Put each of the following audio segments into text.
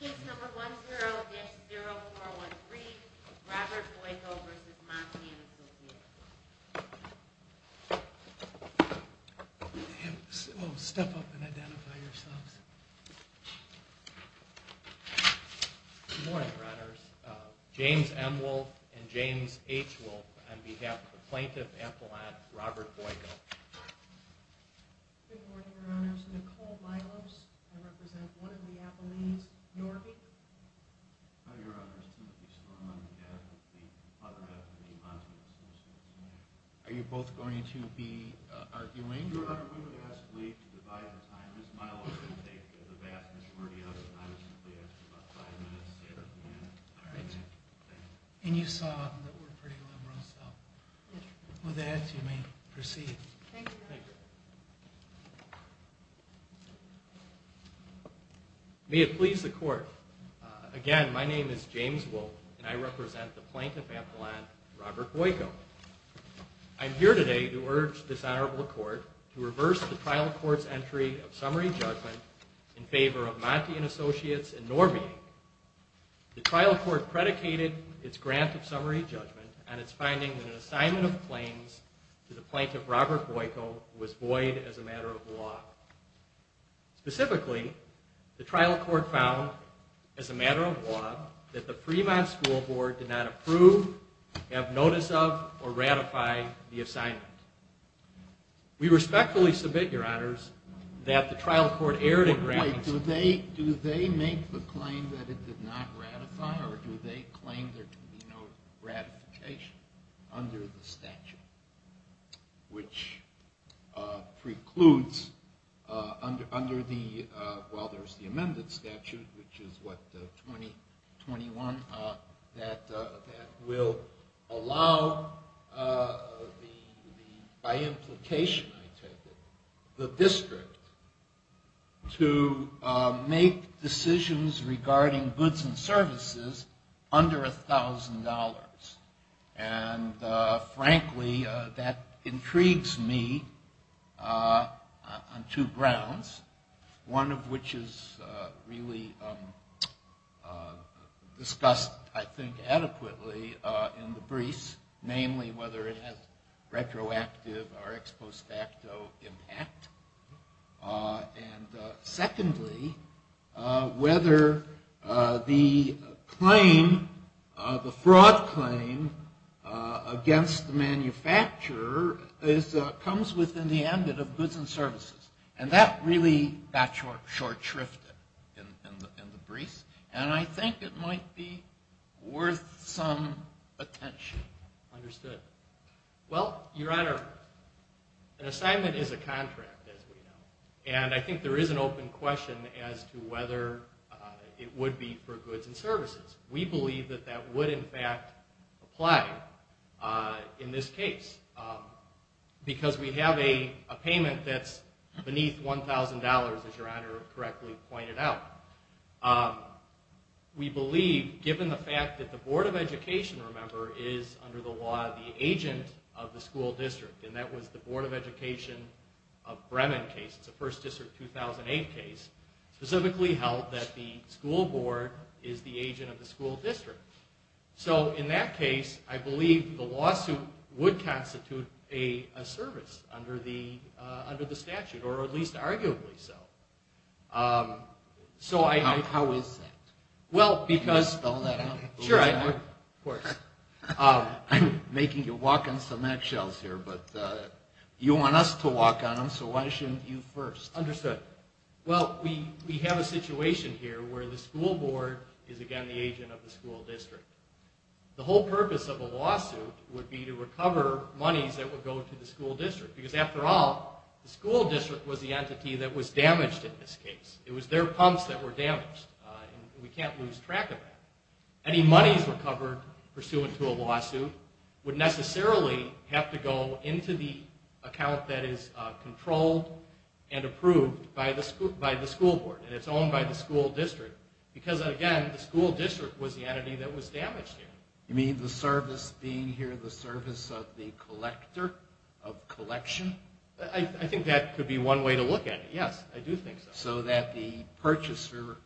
Case number 10-0413, Robert Boiko v. Monti & Associates. Step up and identify yourselves. Good morning, Your Honors. James M. Wolfe and James H. Wolfe on behalf of the Plaintiff Appellant, Robert Boiko. Good morning, Your Honors. Nicole Milos. I represent one of the Appellees, Norby. Good morning, Your Honors. Timothy Storm on behalf of the Platterhouse and the Monti & Associates. Are you both going to be arguing? Your Honor, we would ask leave to divide the time. Ms. Milos can take the vast majority of it. I would simply ask about five minutes, seven minutes. And you saw that we're pretty liberal, so with that you may proceed. May it please the Court. Again, my name is James Wolfe and I represent the Plaintiff Appellant, Robert Boiko. I'm here today to urge this Honorable Court to reverse the trial court's entry of summary judgment in favor of Monti & Associates and Norby. The trial court predicated its grant of summary judgment on its finding that an assignment of claims to the Plaintiff, Robert Boiko, was void as a matter of law. Specifically, the trial court found, as a matter of law, that the Fremont School Board did not approve, have notice of, or ratify the assignment. We respectfully submit, Your Honors, that the trial court erred in granting summary judgment. Do they make the claim that it did not ratify or do they claim there can be no ratification under the statute, which precludes, while there's the amended statute, which is what, 2021, that will allow, by implication I take it, the district to make decisions regarding goods and services under $1,000. And, frankly, that intrigues me on two grounds, one of which is really discussed, I think, adequately in the briefs, namely whether it has retroactive or ex post facto impact. And, secondly, whether the claim, the fraud claim, against the manufacturer comes within the ambit of goods and services. And that really got short shrifted in the briefs and I think it might be worth some attention. Understood. Well, Your Honor, an assignment is a contract, as we know, and I think there is an open question as to whether it would be for goods and services. We believe that that would, in fact, apply in this case because we have a payment that's beneath $1,000, as Your Honor correctly pointed out. We believe, given the fact that the Board of Education, remember, is under the law the agent of the school district, and that was the Board of Education of Bremen case, the first district 2008 case, specifically held that the school board is the agent of the school district. So, in that case, I believe the lawsuit would constitute a service under the statute, or at least arguably so. How is that? Can you spell that out? Sure, of course. I'm making you walk on cement shells here, but you want us to walk on them, so why shouldn't you first? Understood. Well, we have a situation here where the school board is, again, the agent of the school district. The whole purpose of a lawsuit would be to recover monies that would go to the school district because, after all, the school district was the entity that was damaged in this case. It was their pumps that were damaged. We can't lose track of that. Any monies recovered pursuant to a lawsuit would necessarily have to go into the account that is controlled and approved by the school board, and it's owned by the school district because, again, the school district was the entity that was damaged here. You mean the service being here, the service of the collector, of collection? I think that could be one way to look at it, yes. I do think so. So that the purchaser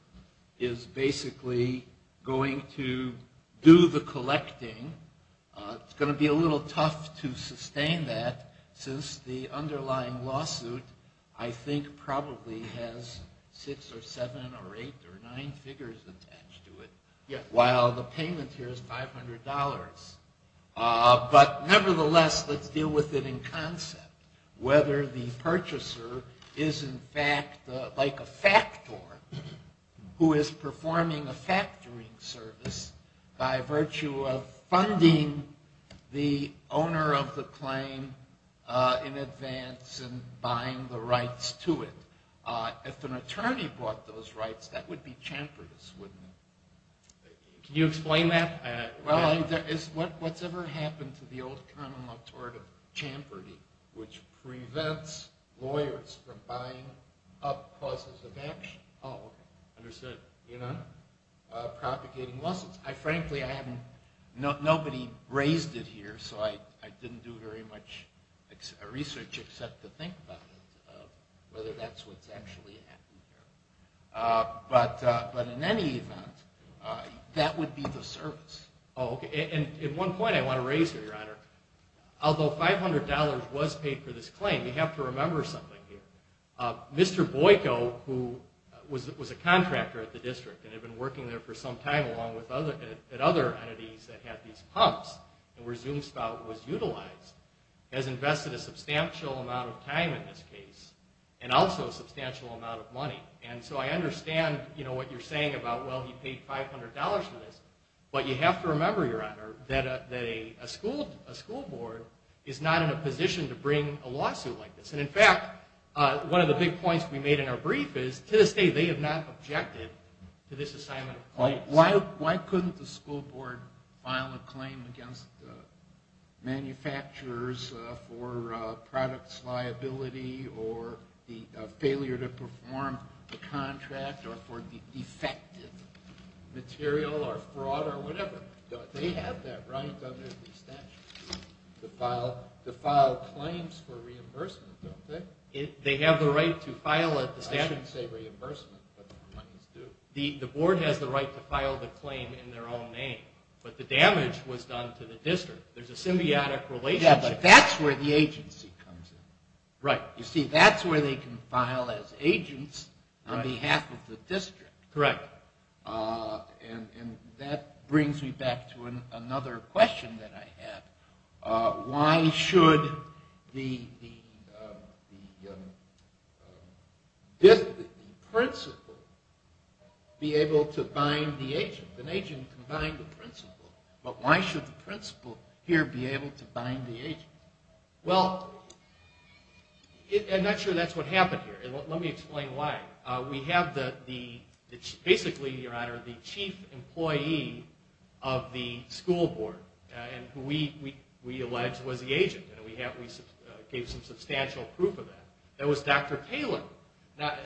is basically going to do the collecting. It's going to be a little tough to sustain that since the underlying lawsuit, I think, probably has six or seven or eight or nine figures attached to it, while the payment here is $500. But, nevertheless, let's deal with it in concept, whether the purchaser is, in fact, like a factor who is performing a factoring service by virtue of funding the owner of the claim in advance and buying the rights to it. If an attorney bought those rights, that would be chamfered, wouldn't it? Can you explain that? Well, what's ever happened to the old common law tort of chamfering, which prevents lawyers from buying up causes of action? Oh, understood. Propagating lawsuits. Frankly, nobody raised it here, so I didn't do very much research except to think about it, whether that's what's actually happened here. But in any event, that would be the service. Oh, okay. And one point I want to raise here, Your Honor. Although $500 was paid for this claim, we have to remember something here. Mr. Boyko, who was a contractor at the district and had been working there for some time along with other entities that had these pumps and where ZoomSpout was utilized, has invested a substantial amount of time in this case and also a substantial amount of money. I understand what you're saying about, well, he paid $500 for this. But you have to remember, Your Honor, that a school board is not in a position to bring a lawsuit like this. And in fact, one of the big points we made in our brief is, to this day, they have not objected to this assignment of claims. Why couldn't the school board file a claim against manufacturers for products liability or the failure to perform the contract or for defective material or fraud or whatever? They have that right under the statute. The file claims for reimbursement, don't they? They have the right to file it. I shouldn't say reimbursement, but the claims do. The board has the right to file the claim in their own name, but the damage was done to the district. There's a symbiotic relationship. Yeah, but that's where the agency comes in. Right. You see, that's where they can file as agents on behalf of the district. Correct. And that brings me back to another question that I had. Why should the principal be able to bind the agent? An agent can bind the principal, but why should the principal here be able to bind the agent? Well, I'm not sure that's what happened here. Let me explain why. We have basically, Your Honor, the chief employee of the school board, who we allege was the agent. We gave some substantial proof of that. That was Dr. Taylor. Now,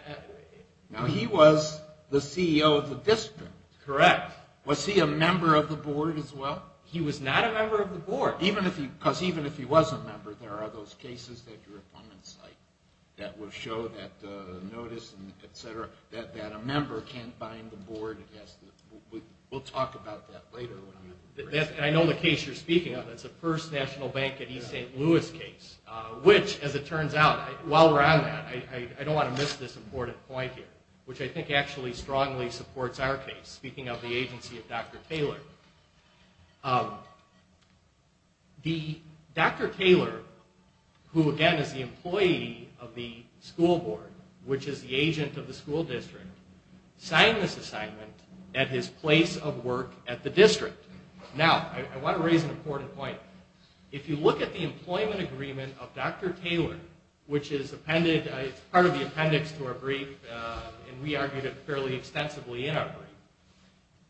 he was the CEO of the district. Correct. Was he a member of the board as well? He was not a member of the board. Because even if he was a member, there are those cases that will show that a member can't bind the board. We'll talk about that later. I know the case you're speaking of. That's the first National Bank of East St. Louis case. Which, as it turns out, while we're on that, I don't want to miss this important point here, which I think actually strongly supports our case, speaking of the agency of Dr. Taylor. Dr. Taylor, who again is the employee of the school board, which is the agent of the school district, signed this assignment at his place of work at the district. Now, I want to raise an important point. If you look at the employment agreement of Dr. Taylor, which is part of the appendix to our brief,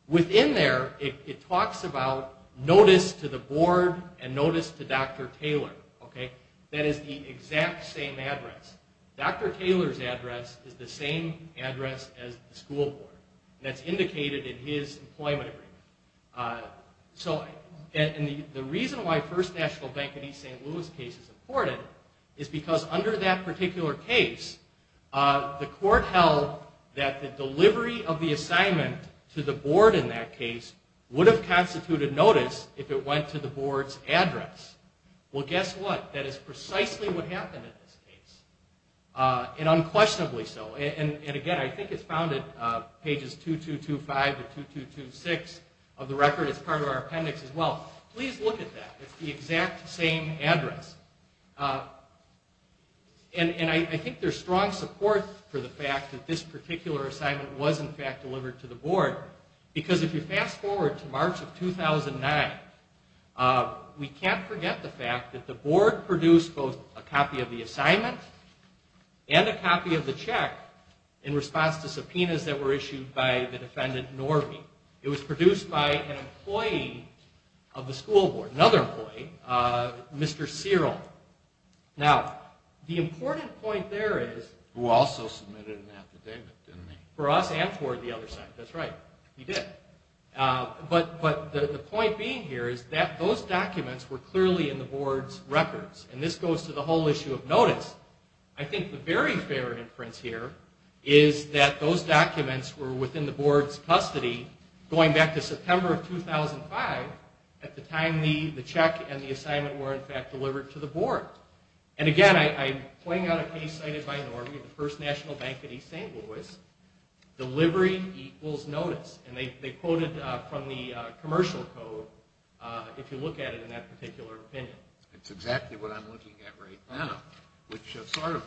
within there, it talks about notice to the board and notice to Dr. Taylor. That is the exact same address. Dr. Taylor's address is the same address as the school board. That's indicated in his employment agreement. The reason why the first National Bank of East St. Louis case is important is because under that particular case, the court held that the delivery of the assignment to the board in that case would have constituted notice if it went to the board's address. Well, guess what? That is precisely what happened in this case. And unquestionably so. And again, I think it's found at pages 2225 to 2226 of the record. It's part of our appendix as well. Please look at that. It's the exact same address. And I think there's strong support for the fact that this particular assignment was in fact delivered to the board. Because if you fast forward to March of 2009, we can't forget the fact that the board produced both a copy of the assignment and a copy of the check in response to subpoenas that were issued by the defendant Norby. It was produced by an employee of the school board, another employee, Mr. Cyril. Now, the important point there is... Who also submitted an affidavit, didn't he? For us and for the other side. That's right. He did. But the point being here is that those documents were clearly in the board's records. And this goes to the whole issue of notice. I think the very fair inference here is that those documents were within the board's custody going back to September of 2005, at the time the check and the assignment were in fact delivered to the board. And again, I'm pointing out a case cited by Norby of the First National Bank of East St. Louis. Delivery equals notice. And they quoted from the commercial code if you look at it in that particular opinion. That's exactly what I'm looking at right now. Which sort of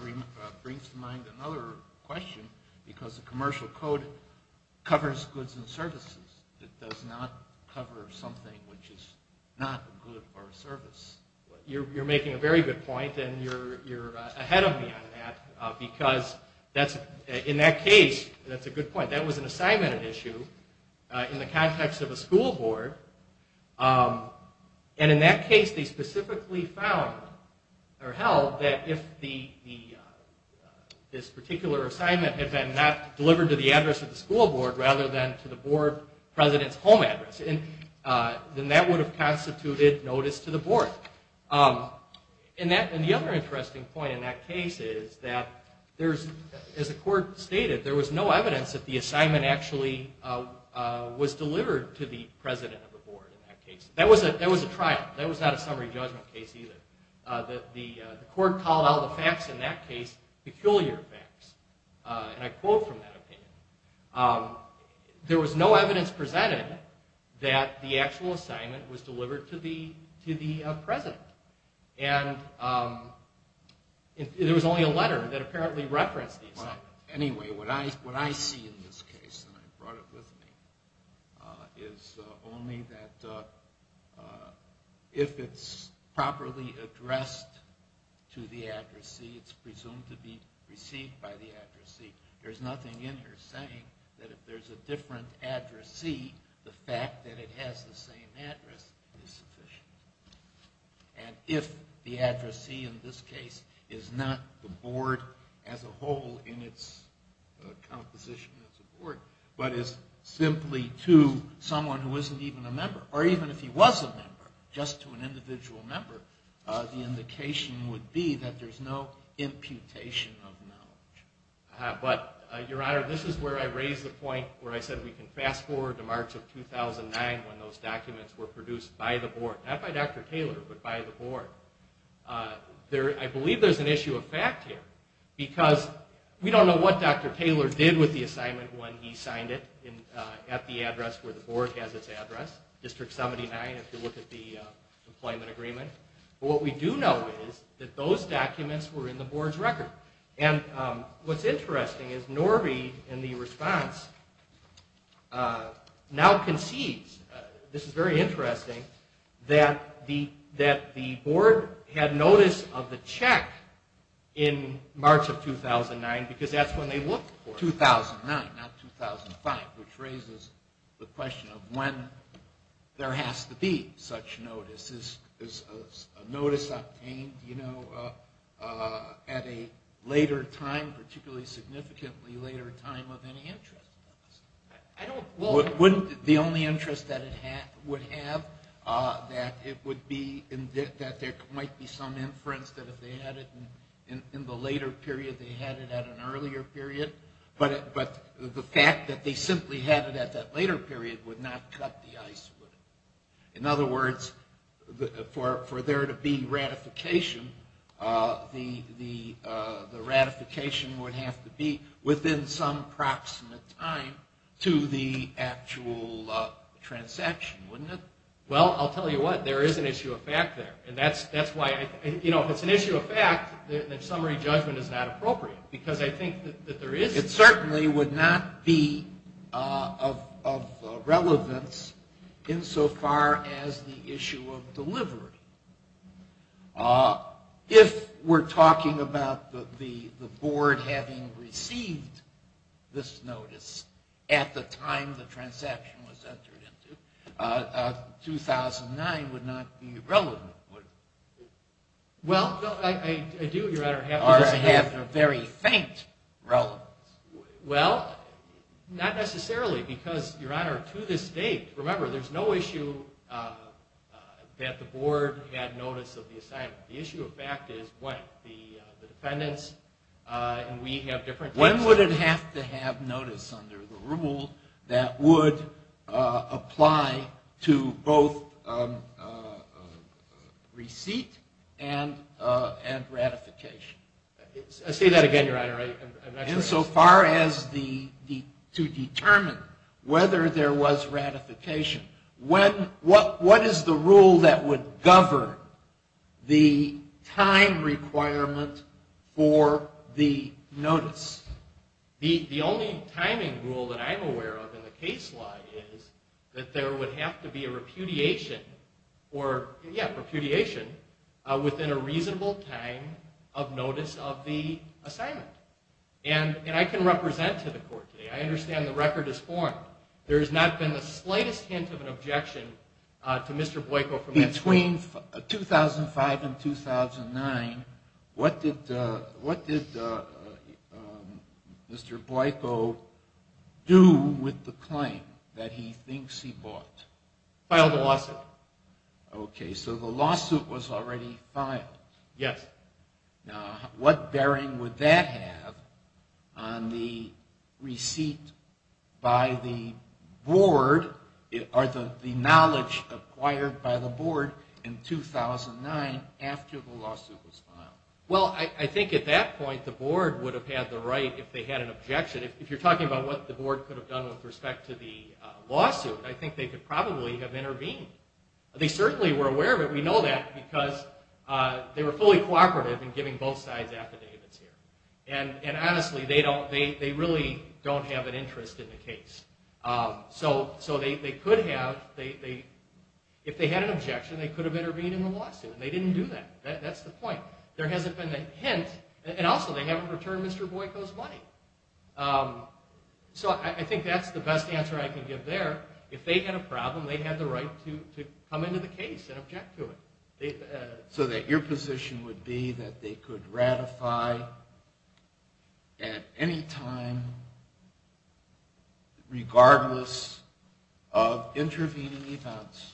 brings to mind another question, because the commercial code covers goods and services. It does not cover something which is not a good or a service. You're making a very good point, and you're ahead of me on that. Because in that case, that's a good point, that was an assignment at issue in the context of a school board. And in that case, they specifically found or held that if this particular assignment had been not delivered to the address of the school board rather than to the board president's home address, then that would have constituted notice to the board. And the other interesting point in that case is that as the court stated, there was no evidence that the assignment actually was delivered to the president of the board in that case. That was a trial. That was not a summary judgment case either. The court called all the facts in that case peculiar facts. And I quote from that opinion. There was no evidence presented that the actual assignment was delivered to the president. And there was only a letter that apparently referenced the assignment. Anyway, what I see in this case, and I brought it with me, is only that if it's properly addressed to the addressee, it's presumed to be received by the addressee. There's nothing in here saying that if there's a different addressee, the fact that it has the same address is sufficient. And if the addressee in this case is not the board as a whole in its composition as a board, but is simply to someone who isn't even a member, or even if he was a member, just to an individual member, the indication would be that there's no imputation of knowledge. But, Your Honor, this is where I raise the point where I said we can fast forward to March of 2009 when those documents were produced by the board. Not by Dr. Taylor, but by the board. I believe there's an issue of fact here, because we don't know what Dr. Taylor did with the assignment when he signed it at the address where the board has its address, District 79, if you look at the employment agreement. But what we do know is that those documents were in the board's record. And what's interesting is Norby, in the response, now concedes, this is very interesting, that the board had notice of the check in March of 2009, because that's when they looked for it. 2009, not 2005, which raises the question of when there has to be such notice. Is a notice obtained, you know, at a later time, particularly significantly later time, of any interest? Wouldn't the only interest that it would have, that it would be, that there might be some inference that if they had it in the later period, they had it at an earlier period? But the fact that they simply had it at that later period would not cut the ice, would it? In other words, for there to be ratification, the ratification would have to be within some proximate time to the actual transaction, wouldn't it? Well, I'll tell you what, there is an issue of fact there. And that's why, you know, if it's an issue of fact, then summary judgment is not appropriate. Because I think that there is... It certainly would not be of relevance insofar as the issue of delivery. If we're talking about the board having received this notice at the time the transaction was entered into, 2009 would not be relevant, would it? Well, I do, Your Honor, have to... I have a very faint relevance. Well, not necessarily, because, Your Honor, to this date, remember, there's no issue that the board had notice of the assignment. The issue of fact is when. The defendants, and we have different... When would it have to have notice under the rule that would apply to both receipt and ratification? Say that again, Your Honor. Insofar as the... To determine whether there was ratification. What is the rule that would govern the time requirement for the notice? The only timing rule that I'm aware of in the case law is that there would have to be a repudiation, or, yeah, repudiation, within a reasonable time of notice of the assignment. And I can represent to the court today. I understand the record is formed. There has not been the slightest hint of an objection to Mr. Boyko from this court. Between 2005 and 2009, what did Mr. Boyko do with the claim that he thinks he bought? Filed a lawsuit. Okay, so the lawsuit was already filed. Yes. Now, what bearing would that have on the receipt by the board, or the knowledge acquired by the board in 2009 after the lawsuit was filed? Well, I think at that point, the board would have had the right, if they had an objection. If you're talking about what the board could have done with respect to the lawsuit, they certainly were aware of it. We know that because they were fully cooperative in giving both sides affidavits here. And honestly, they don't, they really don't have an interest in the case. So they could have, if they had an objection, they could have intervened in the lawsuit, and they didn't do that. That's the point. There hasn't been a hint, and also they haven't returned Mr. Boyko's money. So I think that's the best answer I can give there. If they had a problem, they could come into the case and object to it. So that your position would be that they could ratify at any time, regardless of intervening events,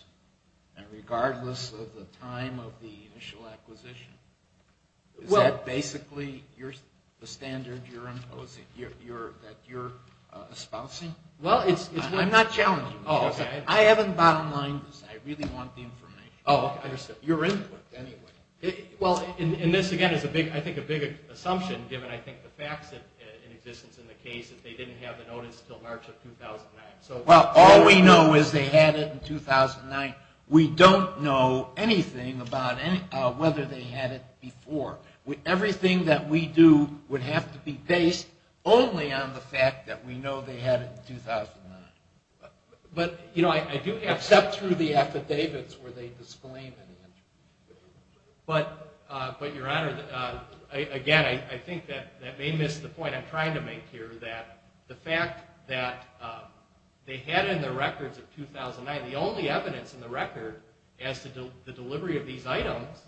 and regardless of the time of the initial acquisition? Is that basically the standard that you're espousing? Well, it's... I'm not challenging you. I simply want the information. Oh, I understand. Your input, anyway. Well, and this, again, is I think a big assumption, given I think the facts in existence in the case, that they didn't have the notice until March of 2009. Well, all we know is they had it in 2009. We don't know anything about whether they had it before. Everything that we do would have to be based only on the fact that we know they had it in 2009. But, you know, I do have... Except through the affidavits where they disclaim it. But, Your Honor, again, I think that may miss the point I'm trying to make here, that the fact that they had it in their records of 2009, the only evidence in the record as to the delivery of these items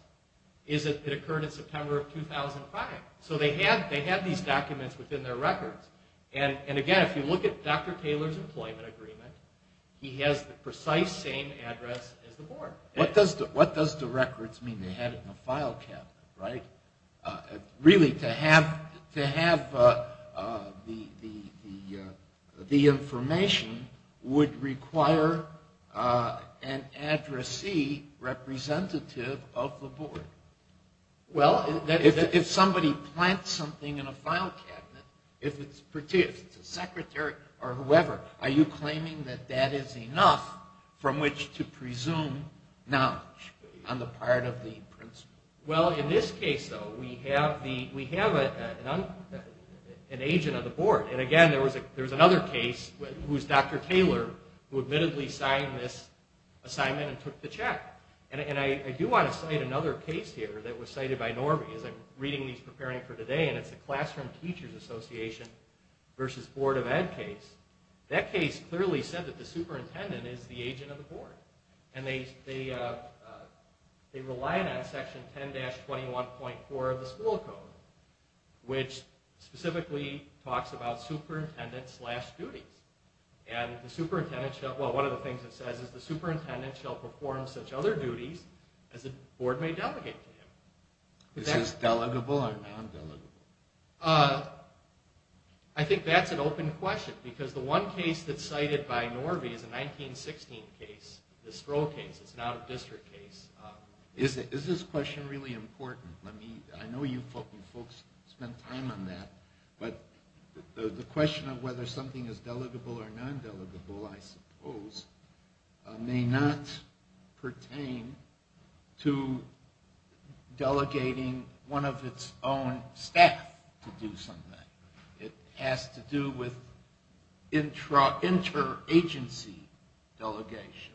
is that it occurred in September of 2005. So they had these documents within their records. And, again, if you look at Dr. Taylor's employment, he has the precise same address as the board. What does the records mean they had it in a file cabinet, right? Really, to have the information would require an addressee representative of the board. Well, if somebody plants something in a file cabinet, if it's a secretary or whoever, are you claiming that that is enough from which to presume knowledge on the part of the principal? Well, in this case, though, we have an agent on the board. And, again, there was another case who was Dr. Taylor who admittedly signed this assignment and took the check. And I do want to cite another case here that was cited by Norby as I'm reading these preparing for today, and it's the Classroom Teachers Association versus Board of Ed case. That case clearly said that the superintendent is the agent of the board. And they relied on section 10-21.4 of the school code, which specifically talks about superintendent slash duties. And the superintendent, well, one of the things it says is the superintendent shall perform such other duties as the board may delegate to him. Is this delegable or non-delegable? I think that's an open question because the one case that's cited by Norby is a 1916 case, the Stroh case. It's an out-of-district case. Is this question really important? I know you folks spent time on that, but the question of whether something is delegable or non-delegable, I suppose, may not pertain to delegating one of its own staff to do something. It has to do with interagency delegation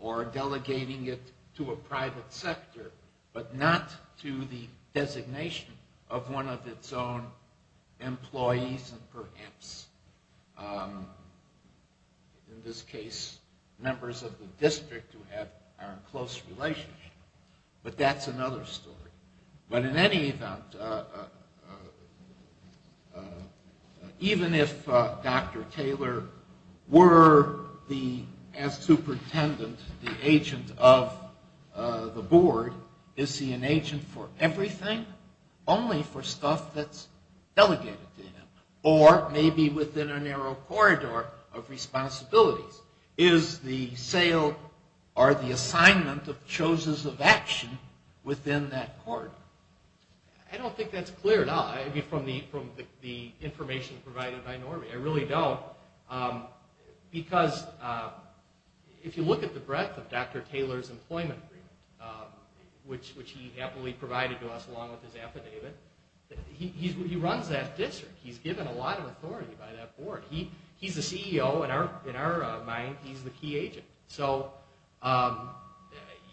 or delegating it to a private sector, but not to the designation of one of its own employees and perhaps, in this case, members of the district who have a close relationship. But that's another story. But in any event, even if Dr. Taylor were the, as superintendent, the agent of the board, is he an agent for everything? Only for stuff that's delegated to him or maybe within a narrow corridor of responsibilities. Is the sale or the assignment of choices of action within that corridor? I don't think that's clear at all from the information provided by NORBE. I really don't. Because if you look at the breadth of Dr. Taylor's employment agreement, which he happily provided to us along with his affidavit, he runs that district. He's given a lot of authority by that board. He's the CEO. In our mind, he's the key agent. So,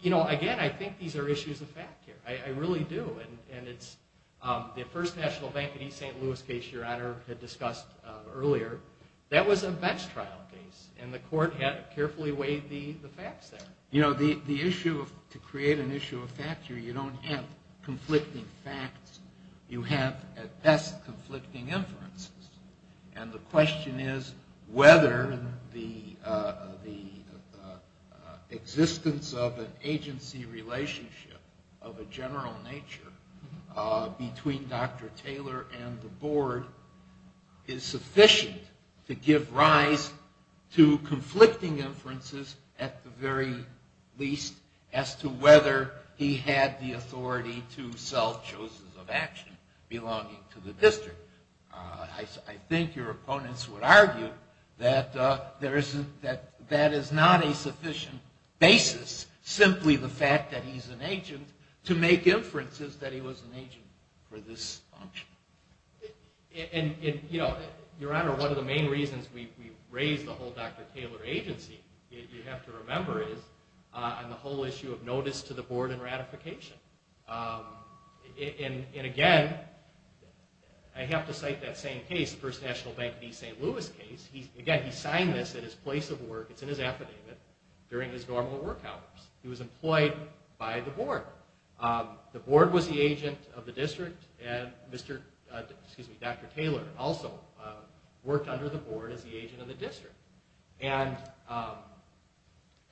you know, again, I think these are issues of fact here. I really do. And it's the First National Bank of East St. Louis case, Your Honor, had discussed earlier. That was a bench trial case. And the court had carefully weighed the facts there. You know, the issue of, to create an issue of fact here, you don't have conflicting facts. You have, at best, conflicting inferences. And the question is whether the existence of an agency relationship of a general nature between Dr. Taylor and the board is sufficient to give rise to conflicting inferences at the very least as to whether he had the authority to sell choices of action belonging to the district. I think your opponents would argue that that is not a sufficient basis, simply the fact that he's an agent to make inferences that he was an agent for this function. And, you know, Your Honor, one of the main reasons we raised the whole Dr. Taylor agency, you have to remember, is on the whole issue of notice to the board and ratification. And again, I have to cite that same case, again, he signed this at his place of work, it's in his affidavit, during his normal work hours. He was employed by the board. The board was the agent of the district, and Dr. Taylor also worked under the board as the agent of the district. And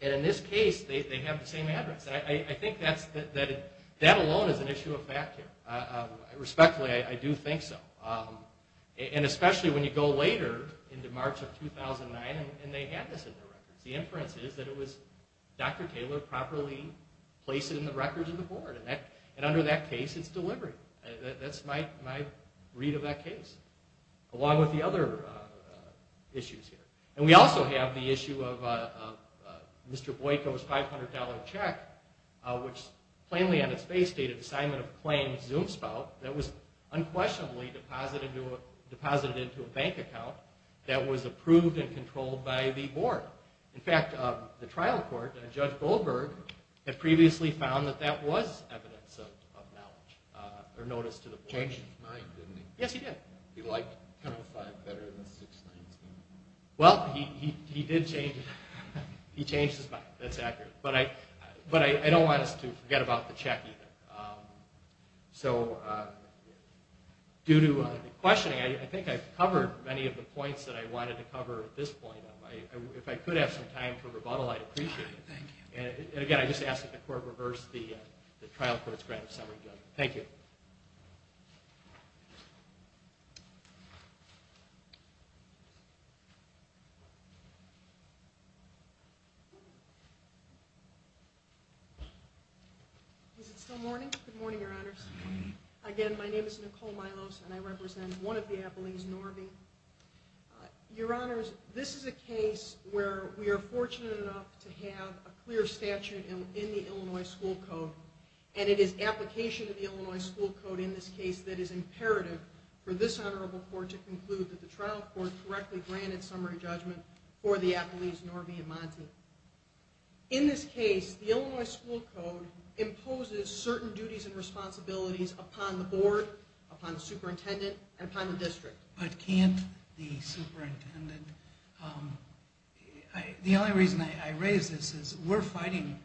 in this case, they have the same address. I think that alone is an issue of fact here. Respectfully, I do think so. I mean, this was in 2009, and they had this in their records. The inference is that it was Dr. Taylor properly placing the records in the board. And under that case, it's deliberate. That's my read of that case, along with the other issues here. And we also have the issue of Mr. Boyko's $500 check, which plainly on its base stated assignment of claims Zoom spout, that was unquestionably viewed and controlled by the board. In fact, the trial court, Judge Goldberg, had previously found that that was evidence of knowledge or notice to the board. Yes, he did. Well, he did change, he changed his mind. That's accurate. But I don't want us So, due to the questioning, I think I've covered many of the points at this point. If I could have some time for rebuttal, I'd appreciate it. And again, I just ask that the court reverse the trial court's grant of summary judgment. Thank you. Is it still morning? Good morning, Your Honors. Again, my name is Nicole Milos, and I represent one of the Appellees, Norby. Your Honors, this is a case where we are fortunate enough to have a clear statute in the Illinois School Code, and it is application of the Illinois School Code in this case that is imperative for this Honorable Court to conclude that the trial court correctly granted summary judgment for the Appellees, Norby, and Monty. In this case, the Illinois School Code is not necessary to conclude the jury's decision. But can't the Superintendent... the only reason I raise this is we're fighting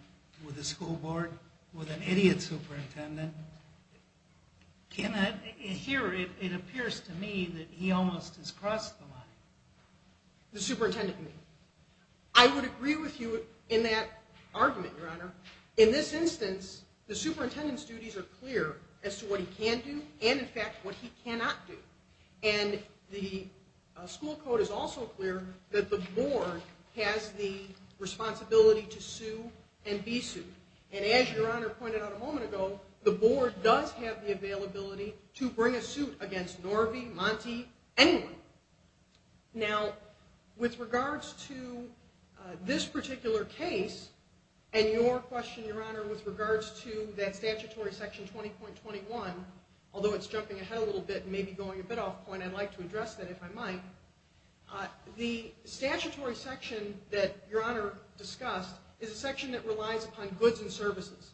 with the school board with an idiot superintendent. Can I hear it appears to me that he almost has crossed the line. The Superintendent, I would agree with you in that argument, Your Honor. In this instance, the Superintendent's duties are clear as to what he can do and in fact what he cannot do. And the school code is also clear that the board has the responsibility to sue and be sued. And as Your Honor pointed out a moment ago, the board does have the availability to bring a suit against Norvie, Monte, anyone. Now, with regards to this particular case, and your question, Your Honor, with regards to that statutory section 20.21, although it's jumping ahead a little bit and maybe going a bit off point, I'd like to address that if I might. The statutory section that Your Honor discussed is a section that relies upon goods and services.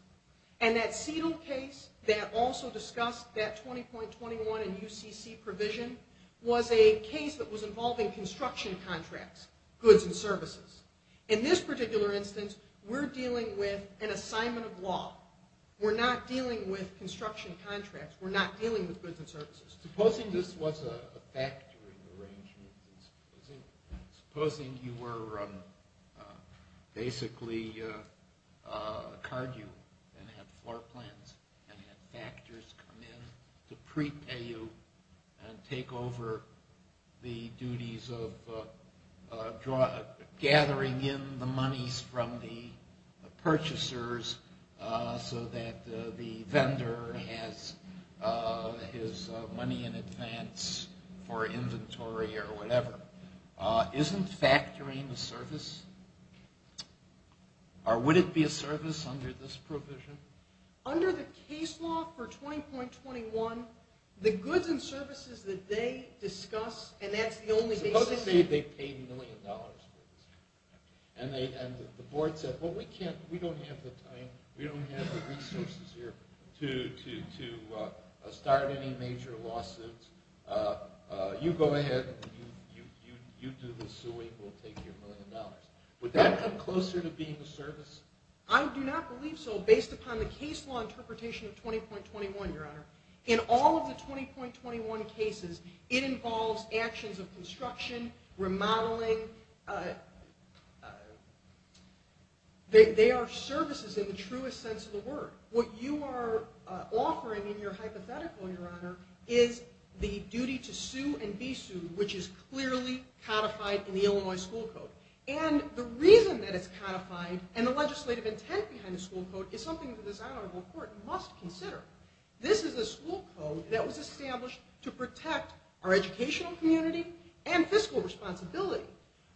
And that CETL case that also discussed that 20.21 and UCC provision was a case that was involving construction contracts, goods and services. In this particular instance, we're dealing with an assignment of law. We're not dealing with construction contracts. We're not dealing with goods and services. Supposing this was a factoring arrangement. Supposing you were basically card you and had floor plans and had factors come in to prepay you and take over the duties of gathering in the monies from the purchasers so that the vendor has his money in advance for inventory or whatever. Isn't factoring a service? Or would it be a service under this provision? Under the case law for 20.21, the goods and services that they discuss and that's the only basis. Supposing they paid a million dollars and the board said, well we don't have the time, we don't have the resources here to start any major lawsuits. You go ahead and you do the suing and we'll take your million dollars. Would that come closer to being a service? I do not believe so based upon the case law interpretation of 20.21, your honor. In all of the 20.21 cases, it involves actions of construction, remodeling, they are services in the truest sense of the word. What you are offering in your hypothetical, your honor, is the duty to sue and be sued which is clearly codified in the Illinois school code. And the reason that it's codified and the legislative intent behind the school code is something the design of the court must consider. This is a school code that was established to protect our educational community and fiscal responsibility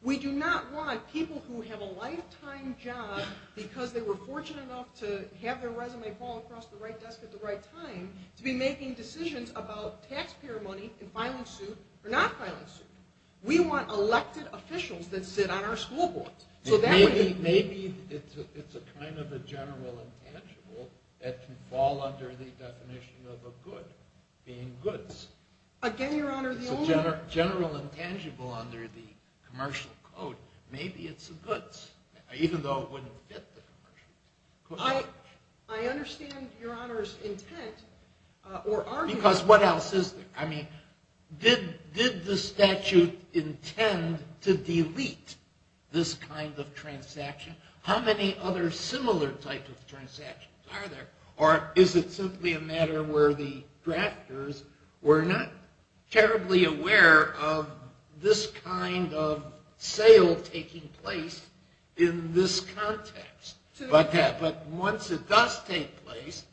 We do not want people who have a lifetime job because they were fortunate enough to have their resume fall across the right desk at the right time to be making decisions about taxpayer money and filing suit or not filing suit. We want elected officials that sit on our school boards. Maybe it's a kind of a general intangible that can fall under the definition of a good being goods. Again, your honor, the only... It's a general intangible under the commercial code. Maybe it's a goods even though it wouldn't fit the commercial code. I understand your honor's intent or argument... Because what else is there? I mean, did the statute intend to delete this kind of transaction? How many other similar types of transactions are there? Or is it simply a matter where the drafters were not terribly aware of this kind of sale taking place in this context? But once it does take place,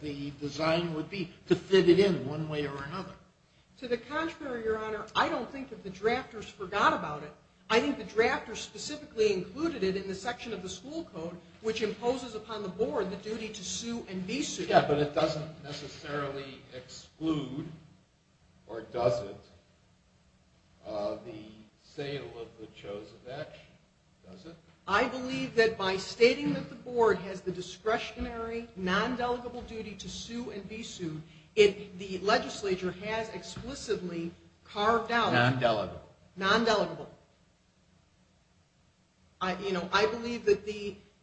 the design would be to fit it in one way or another. To the contrary, your honor, I don't think that the drafters forgot about it. I think the drafters specifically included it in the section of the school code which imposes upon the board the duty to sue and be sued. Does that exclude, or does it, the sale of the chosen action? Does it? I believe that by stating that the board discretionary non-delegable duty to sue and be sued, the legislature has explicitly carved out... Non-delegable. Non-delegable. You know, I believe that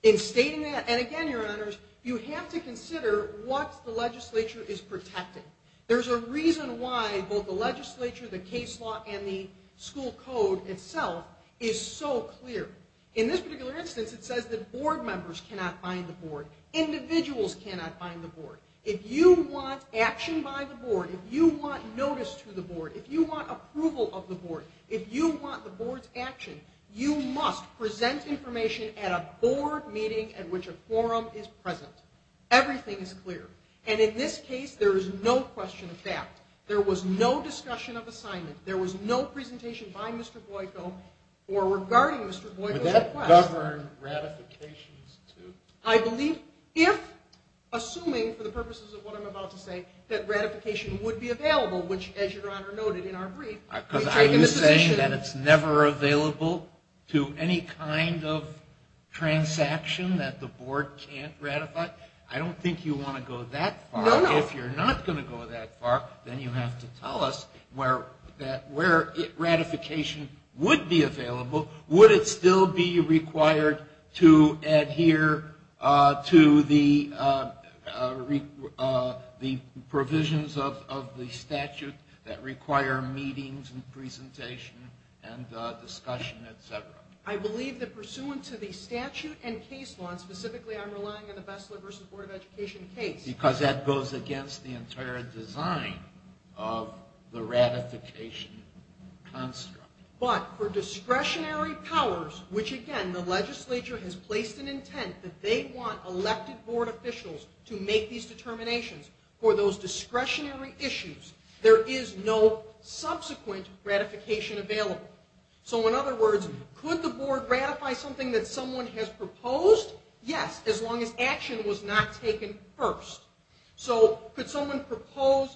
in stating that, and again, your honors, you have to consider what the legislature is protecting. There's a reason why both the legislature, the case law, and the school code itself is so clear. In this particular instance, it says that board members cannot find the board. Individuals cannot find the board. If you want action by the board, if you want notice to the board, if you want approval of the board, if you want the board's action, you must present information at a board meeting at which a forum is present. Everything is clear. And in this case, there is no question of that. There was no discussion of assignment. There was no presentation by Mr. Boyko, or regarding Mr. Boyko's request. I believe if, assuming, for the purposes of what I'm about to say, that ratification would be available, which, as Your Honor noted in our brief, we've taken this decision. Are you saying that it's never available to any kind of transaction that the board can't ratify? I don't think you want to go that far. If you're not going to go that far, then you have to tell us where ratification would be available. Would it still be required to adhere to the provisions of the statute that require meetings and presentation and discussion, et cetera? I believe that pursuant to the statute and case law, and specifically I'm relying on the Bessler v. Board of Education case, because that goes against the entire design of the ratification construct. But for discretionary powers, which, again, the legislature has placed an intent that they want elected board officials to make these determinations for those discretionary issues, there is no subsequent ratification available. So, in other words, could the board ratify something that someone has proposed? Yes, as long as action was not taken first. So, could someone propose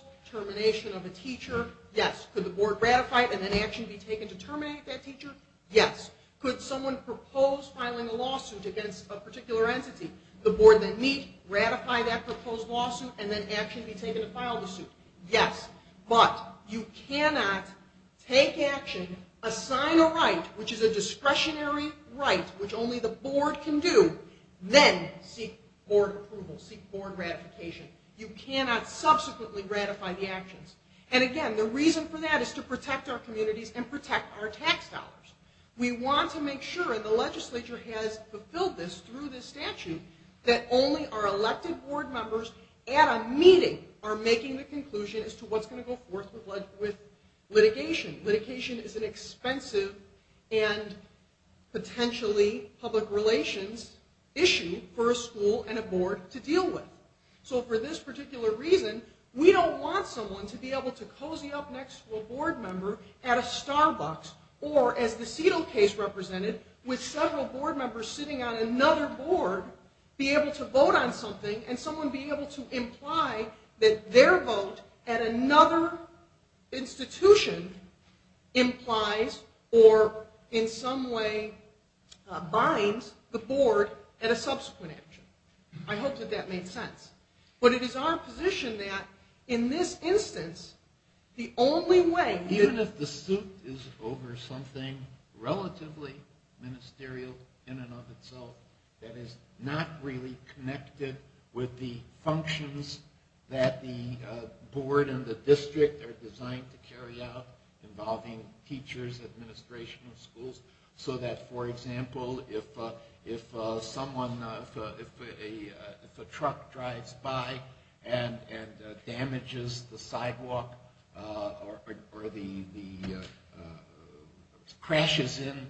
filing a lawsuit against a particular entity, the board that meet, ratify that proposed lawsuit, and then action be taken to file the suit? Yes, but you cannot take action, assign a right, which is a discretionary right, which only the board can do, then seek board approval, seek board ratification. You cannot subsequently ratify the actions. And, again, the reason for that is to protect our communities and protect our tax dollars. We want to make sure, and the legislature has fulfilled this through this statute, that only our elected board members at a meeting are the only elected board to deal with. So, for this particular reason, we don't want someone to be able to cozy up next to a board member at a Starbucks, or, as the Seto case represented, with several board members sitting on another board, be able to vote on something, and someone be able to say, I hope that that made sense. But it is our position that, in this instance, the only way... Even if the suit is over something relatively ministerial in and of itself, that is not really connected with the functions that the board and the district are designed to carry out. If a truck drives by and damages the sidewalk or the... crashes in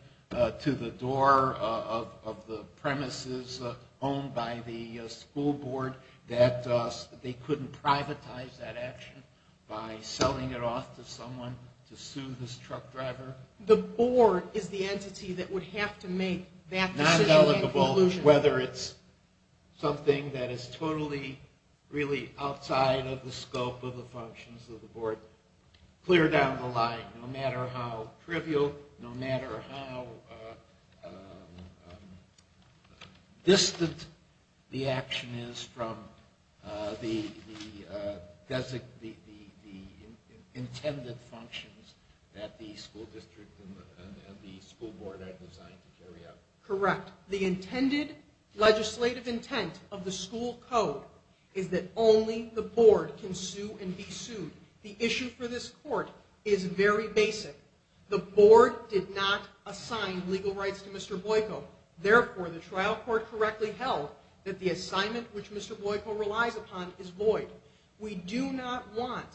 to the door of the premises owned by the school board, that they couldn't privatize that action by selling it off to someone to sue this truck driver. The board is the entity that would have to make that decision at the conclusion. Whether it's something that is totally outside of the scope of the functions of the board, clear down the line, no matter how trivial, no matter how distant the action is from the intended functions that the school district and the school board are designed to carry out. Correct. The intended legislative intent of the school code is that only the board can sue and be sued. The issue for this court is very basic. The board did not assign legal rights to Mr. Boyko. Therefore, the trial court correctly held that the assignment which Mr. Boyko relies upon is void. We do not want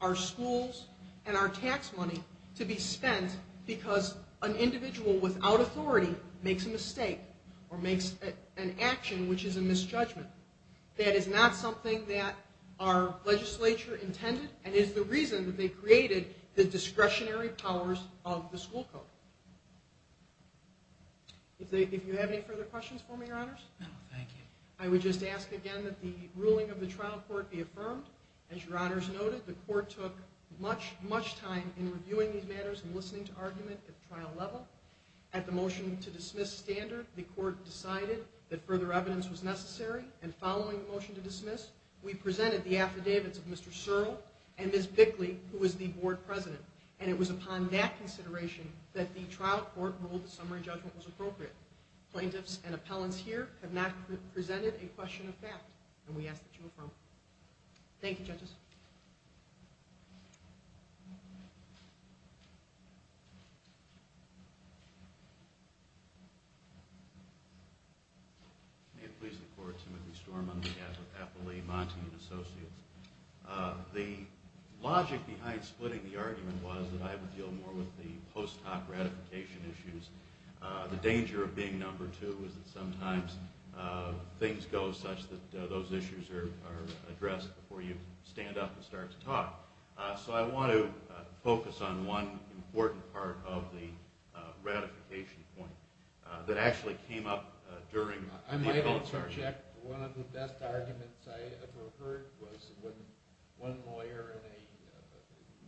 our schools and our tax money to be spent because an individual without authority makes a mistake or makes an action which is a misjudgment. That is not something that our legislature intended and is the reason that they created the discretionary powers of the school code. If you have any further questions for me, Your Honor, for the motion to be affirmed. As Your Honor has noted, the court took much time in reviewing these matters and listening to argument at the trial level. At the motion to dismiss standard, the court decided that further evidence was necessary and following the motion to dismiss argument be split on behalf of the plaintiff. Thank you, judges. The logic behind splitting the argument was that I would deal with the post-hoc issue. The danger of being number two is that sometimes things go such that you how to deal with the issue. I want to focus on one important part of the ratification point that actually came up during the hearing. One of the best arguments I ever heard was one lawyer in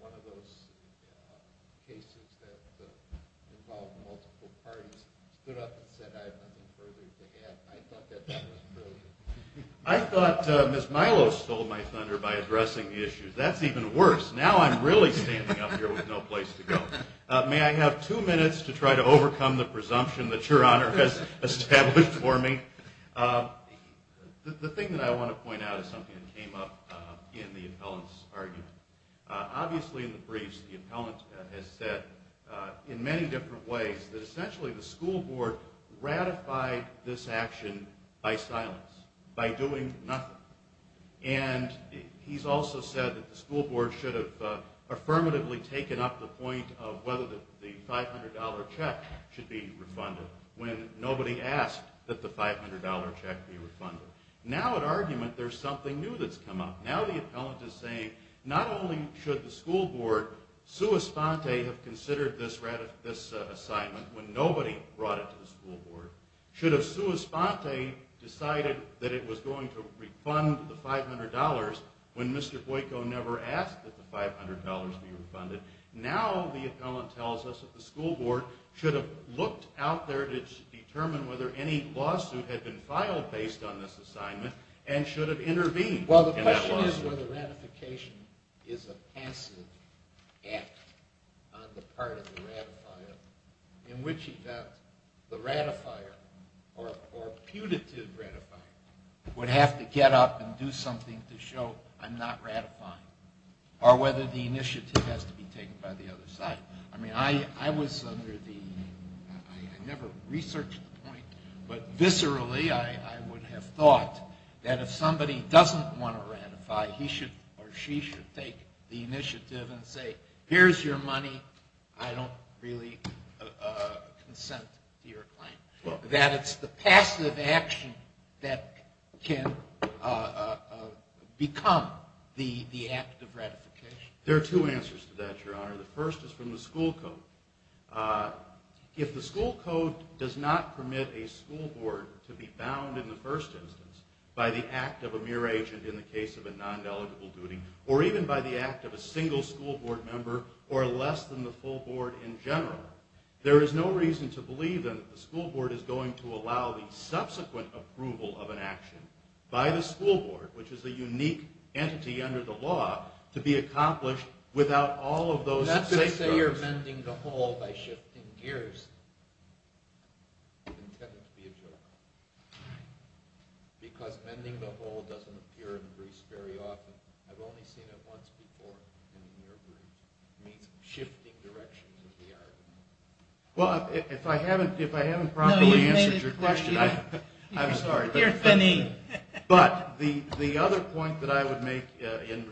one of those cases that involved multiple parties stood up and said I have nothing further to add. I thought that that was brilliant. I thought Ms. Milo stole my thunder by addressing this issue. that Milo stole my thunder by addressing issue. I thought that Ms. Milo stole my thunder by addressing this issue. I thought that Ms. Milo stole my thunder by addressing issue. challenge whether any lawsuit has been filed based on this assignment and should have intervened in that lawsuit. Well, the question is whether ratification is a passive act on the part of the ratifier in which event the ratifier or or putative ratifier would have to get up and do something to show I'm not ratifying or whether the initiative has to be taken by the other side. I mean, I was under the I never researched the point but viscerally I would have thought that if somebody doesn't want to ratify he should or she should take the initiative and say here's your money I don't really consent to your claim. That it's the passive action that can become the act of ratification. There are two answers to that, Your Honor. The first is from the school code. If the school code does not permit a school board to be bound in the first instance by the act of a mere agent in the case of a non-delegable duty or even by the act of a single school board member or less than the full board in general there is no reason to believe then that the school board is going to allow the subsequent approval of an action by the school board which is a unique entity under the law to be accomplished without all of those safeguards. We are mending the whole by shifting gears. It is intended to be a joke because mending the whole doesn't appear in Greece very often. I've only seen it once before. It means shifting directions. If I haven't properly answered your question, I'm sorry, but the other point that I would make in answering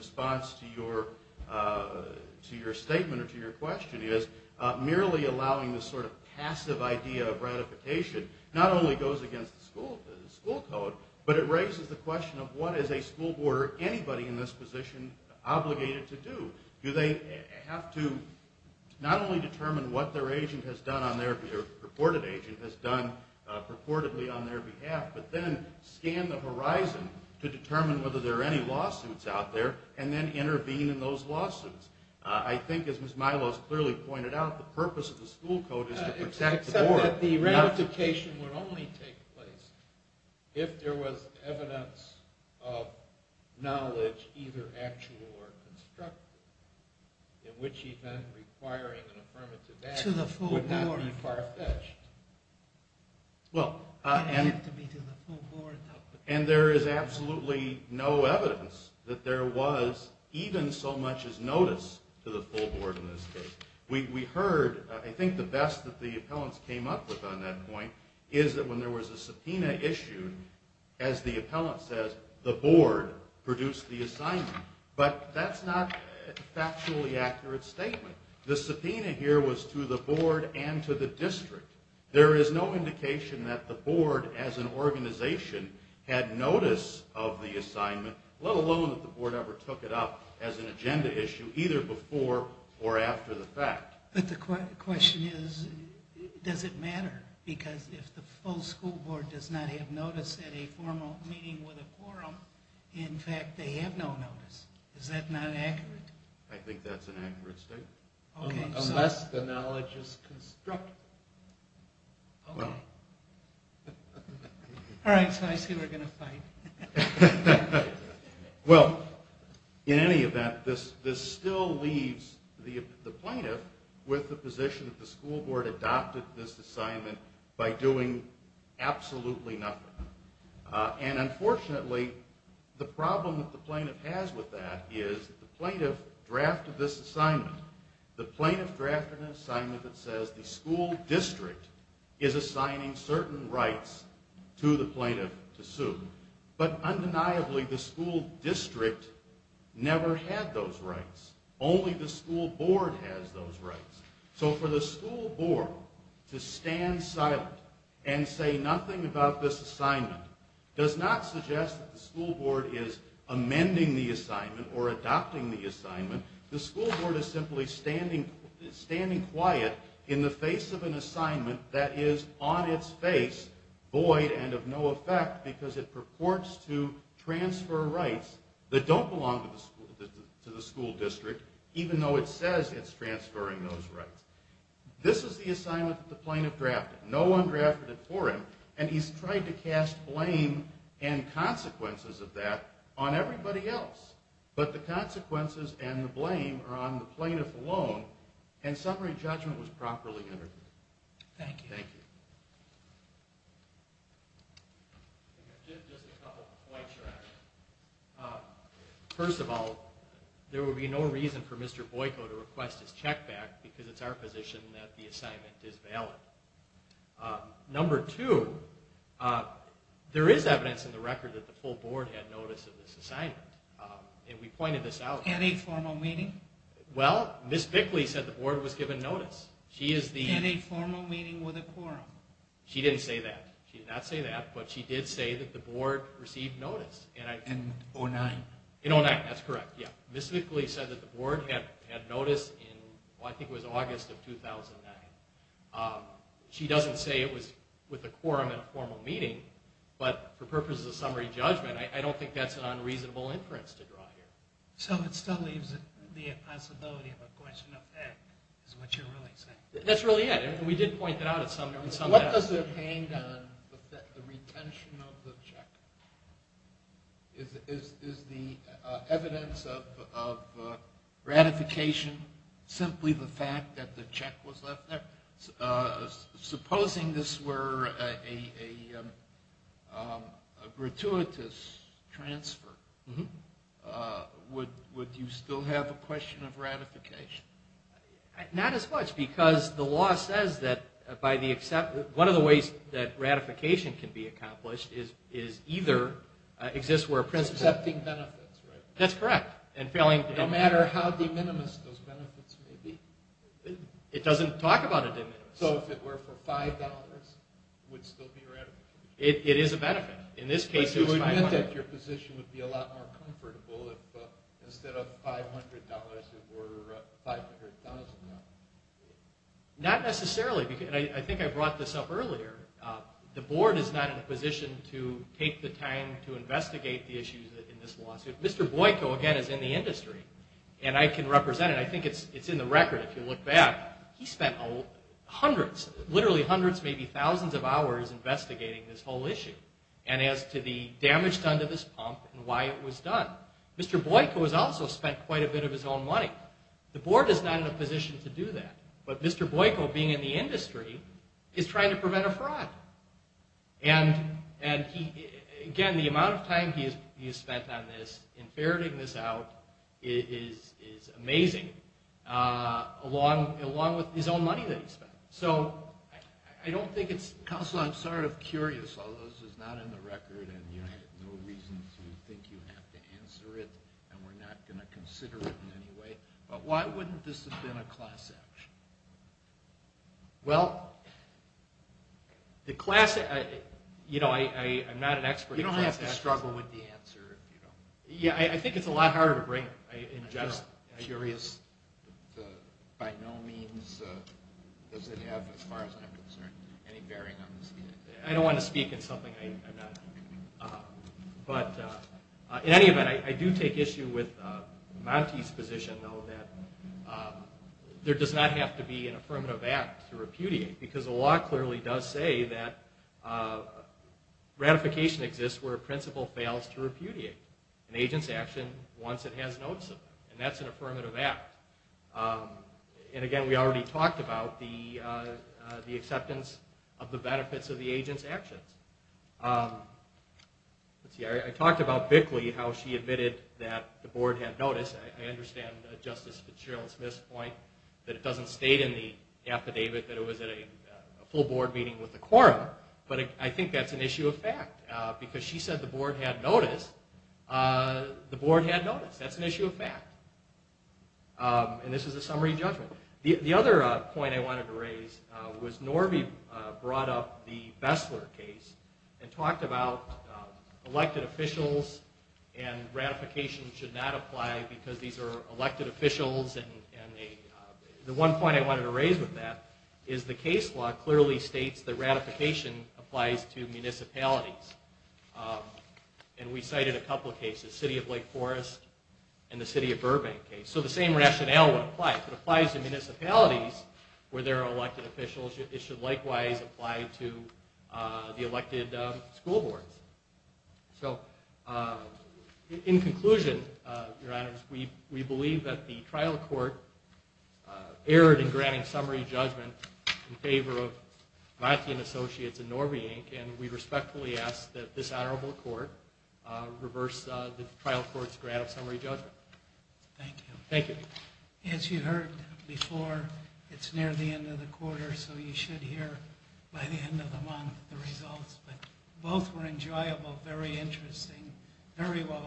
your question is merely allowing this sort of passive idea of ratification not only goes against the school code, but it raises the question of what is a school board or anybody in this position obligated to do? Do they have to not only determine what their agent has done on their behalf but then scan the horizon to determine whether there are any lawsuits out there and then intervene in those lawsuits? I think, as Ms. Milos clearly pointed out, the purpose of the school code is to protect the board. Except that the ratification would only take place if there was evidence of knowledge either actual or constructive in which event requiring an affirmative action would not be far-fetched. And there is absolutely no evidence that there was even so much as notice to the full board in this case. We heard, I think, the best that the appellants came up with on that point is that when there was a subpoena issued, as the appellant says, the board produced the assignment. But that's not a factually accurate statement. The subpoena here was to the board and to the district. There is no indication that the board as an organization had notice of the assignment, let alone that the board ever took it up as an agenda issue, either before or after the fact. But the question is, does it matter? Because if the full school board does not have notice at a formal meeting with a quorum, in fact, they have no notice. Is that not accurate? I think that's an accurate statement. Unless the knowledge is constructive. All right, so I see we're going to fight. Well, in any event, this still leaves the plaintiff with the position that the school board adopted this assignment by doing absolutely nothing. And unfortunately, the problem that the plaintiff has with that is that the plaintiff drafted this assignment that says the school district is assigning certain rights to the plaintiff to sue. But undeniably, the school district never had those rights. Only the school board has those rights. So for the school board to stand silent and say nothing about this assignment does not suggest that the school board is amending the assignment or adopting the assignment. The school board is simply standing quiet in the face of an assignment that is on its face, void, and of no effect because it purports to transfer rights that don't belong to the school district even though it says it's transferring those rights. This is the assignment that the plaintiff drafted. No one drafted it for him, and he's trying to cast blame and consequences of that on everybody else. But the consequences and the blame are on the plaintiff alone, and summary judgment was properly interpreted. Thank you. Thank you. Just a couple points. First of all, there would be no reason for Mr. Boyko to request his check back because it's our position that the plaintiff his check back. Number two, there is evidence in the record that the full board had notice of this assignment, and we pointed this out. Any formal meeting? Well, Ms. Bickley said the board was given notice. Any formal meeting with a quorum? She didn't say that. She did say that the board received notice. In 2009? In 2009, that's correct, yeah. Ms. Bickley said that the board had notice in, I think it was August of 2009. She doesn't say it was with a quorum and a formal meeting, but for purposes of summary judgment, I don't think that's an unreasonable inference to draw here. So it still leaves the possibility of a question of fact is what you're really saying. That's really it. We did point it out at some level. What does it hang on, the retention of the check? Is the evidence of ratification simply the fact that the check was left there? Supposing this were a gratuitous transfer, would you still have a question of ratification? Not as much because the law says that by the acceptance, one of the ways that ratification can be accomplished is either exists where principle. Accepting benefits, right? That's correct. No matter how de minimis those benefits may be. It doesn't talk about a de minimis. So if it were for $5, it would still be $5,000. Not necessarily. I think I brought this up earlier. The board is not in a position to take the time to investigate the issues in this lawsuit. Mr. Boyko, again, is in the industry and I can represent it. I think it's in the record if you look back. He spent hundreds, literally hundreds, maybe thousands of hours investigating this whole issue. And as to the damage done to this pump and why it was done. Mr. Boyko has also spent quite a bit of his own money. The board is not in a position to do that. But Mr. Boyko, being in the industry, is trying to prevent a fraud. And he, again, the amount of time he has spent on this, in ferreting this out, is amazing. Along with his own money that he spent. So I don't think it's... Counselor, I'm sort of curious, although this is not in the record and you have no reason to think you have to answer it and we're not going to consider it in any way. But why wouldn't this have been a class action? Well, the class... You know, I'm not an expert... You don't have to struggle answer. Yeah, I think it's a lot harder to bring it in general. I'm just curious. By no means does it have, as far as I'm concerned, any bearing on the... I don't want to speak in That's something I'm not... But in any event, I do take issue with Monty's position, though, that there does not have to be an affirmative act to repudiate because the law clearly does say that ratification exists where a principle fails to repudiate an agent's action once it has notice of it. And that's an affirmative act. And, again, we already talked about the acceptance of the benefits of the agent's actions. I talked about Bickley, how she admitted that the board had notice. I understand Justice Fitzgerald Smith's point that it doesn't state in the affidavit that it was a full board meeting with the quorum, but I understand that she said the board had notice. The board had notice. That's an issue of fact. And this is a summary judgment. The other point I wanted to raise was Norby brought up the Bessler case and talked about elected officials and ratification should not apply because these are elected officials. And we cited a couple of cases, City of Lake Forest and the City of Burbank case. So the same rationale would apply. If it applies to municipalities where there are elected officials, it should likewise apply to the elected school boards. So in conclusion, your honors, we believe that the trial court erred in granting summary judgment in favor of Martian Associates and Norby Inc. And we respectfully ask that this honorable court reverse the trial court's grant of summary judgment. Thank you. As you heard before, it's near the end of the quarter, so you should hear by the end of the month the results. But both were enjoyable, very interesting, very well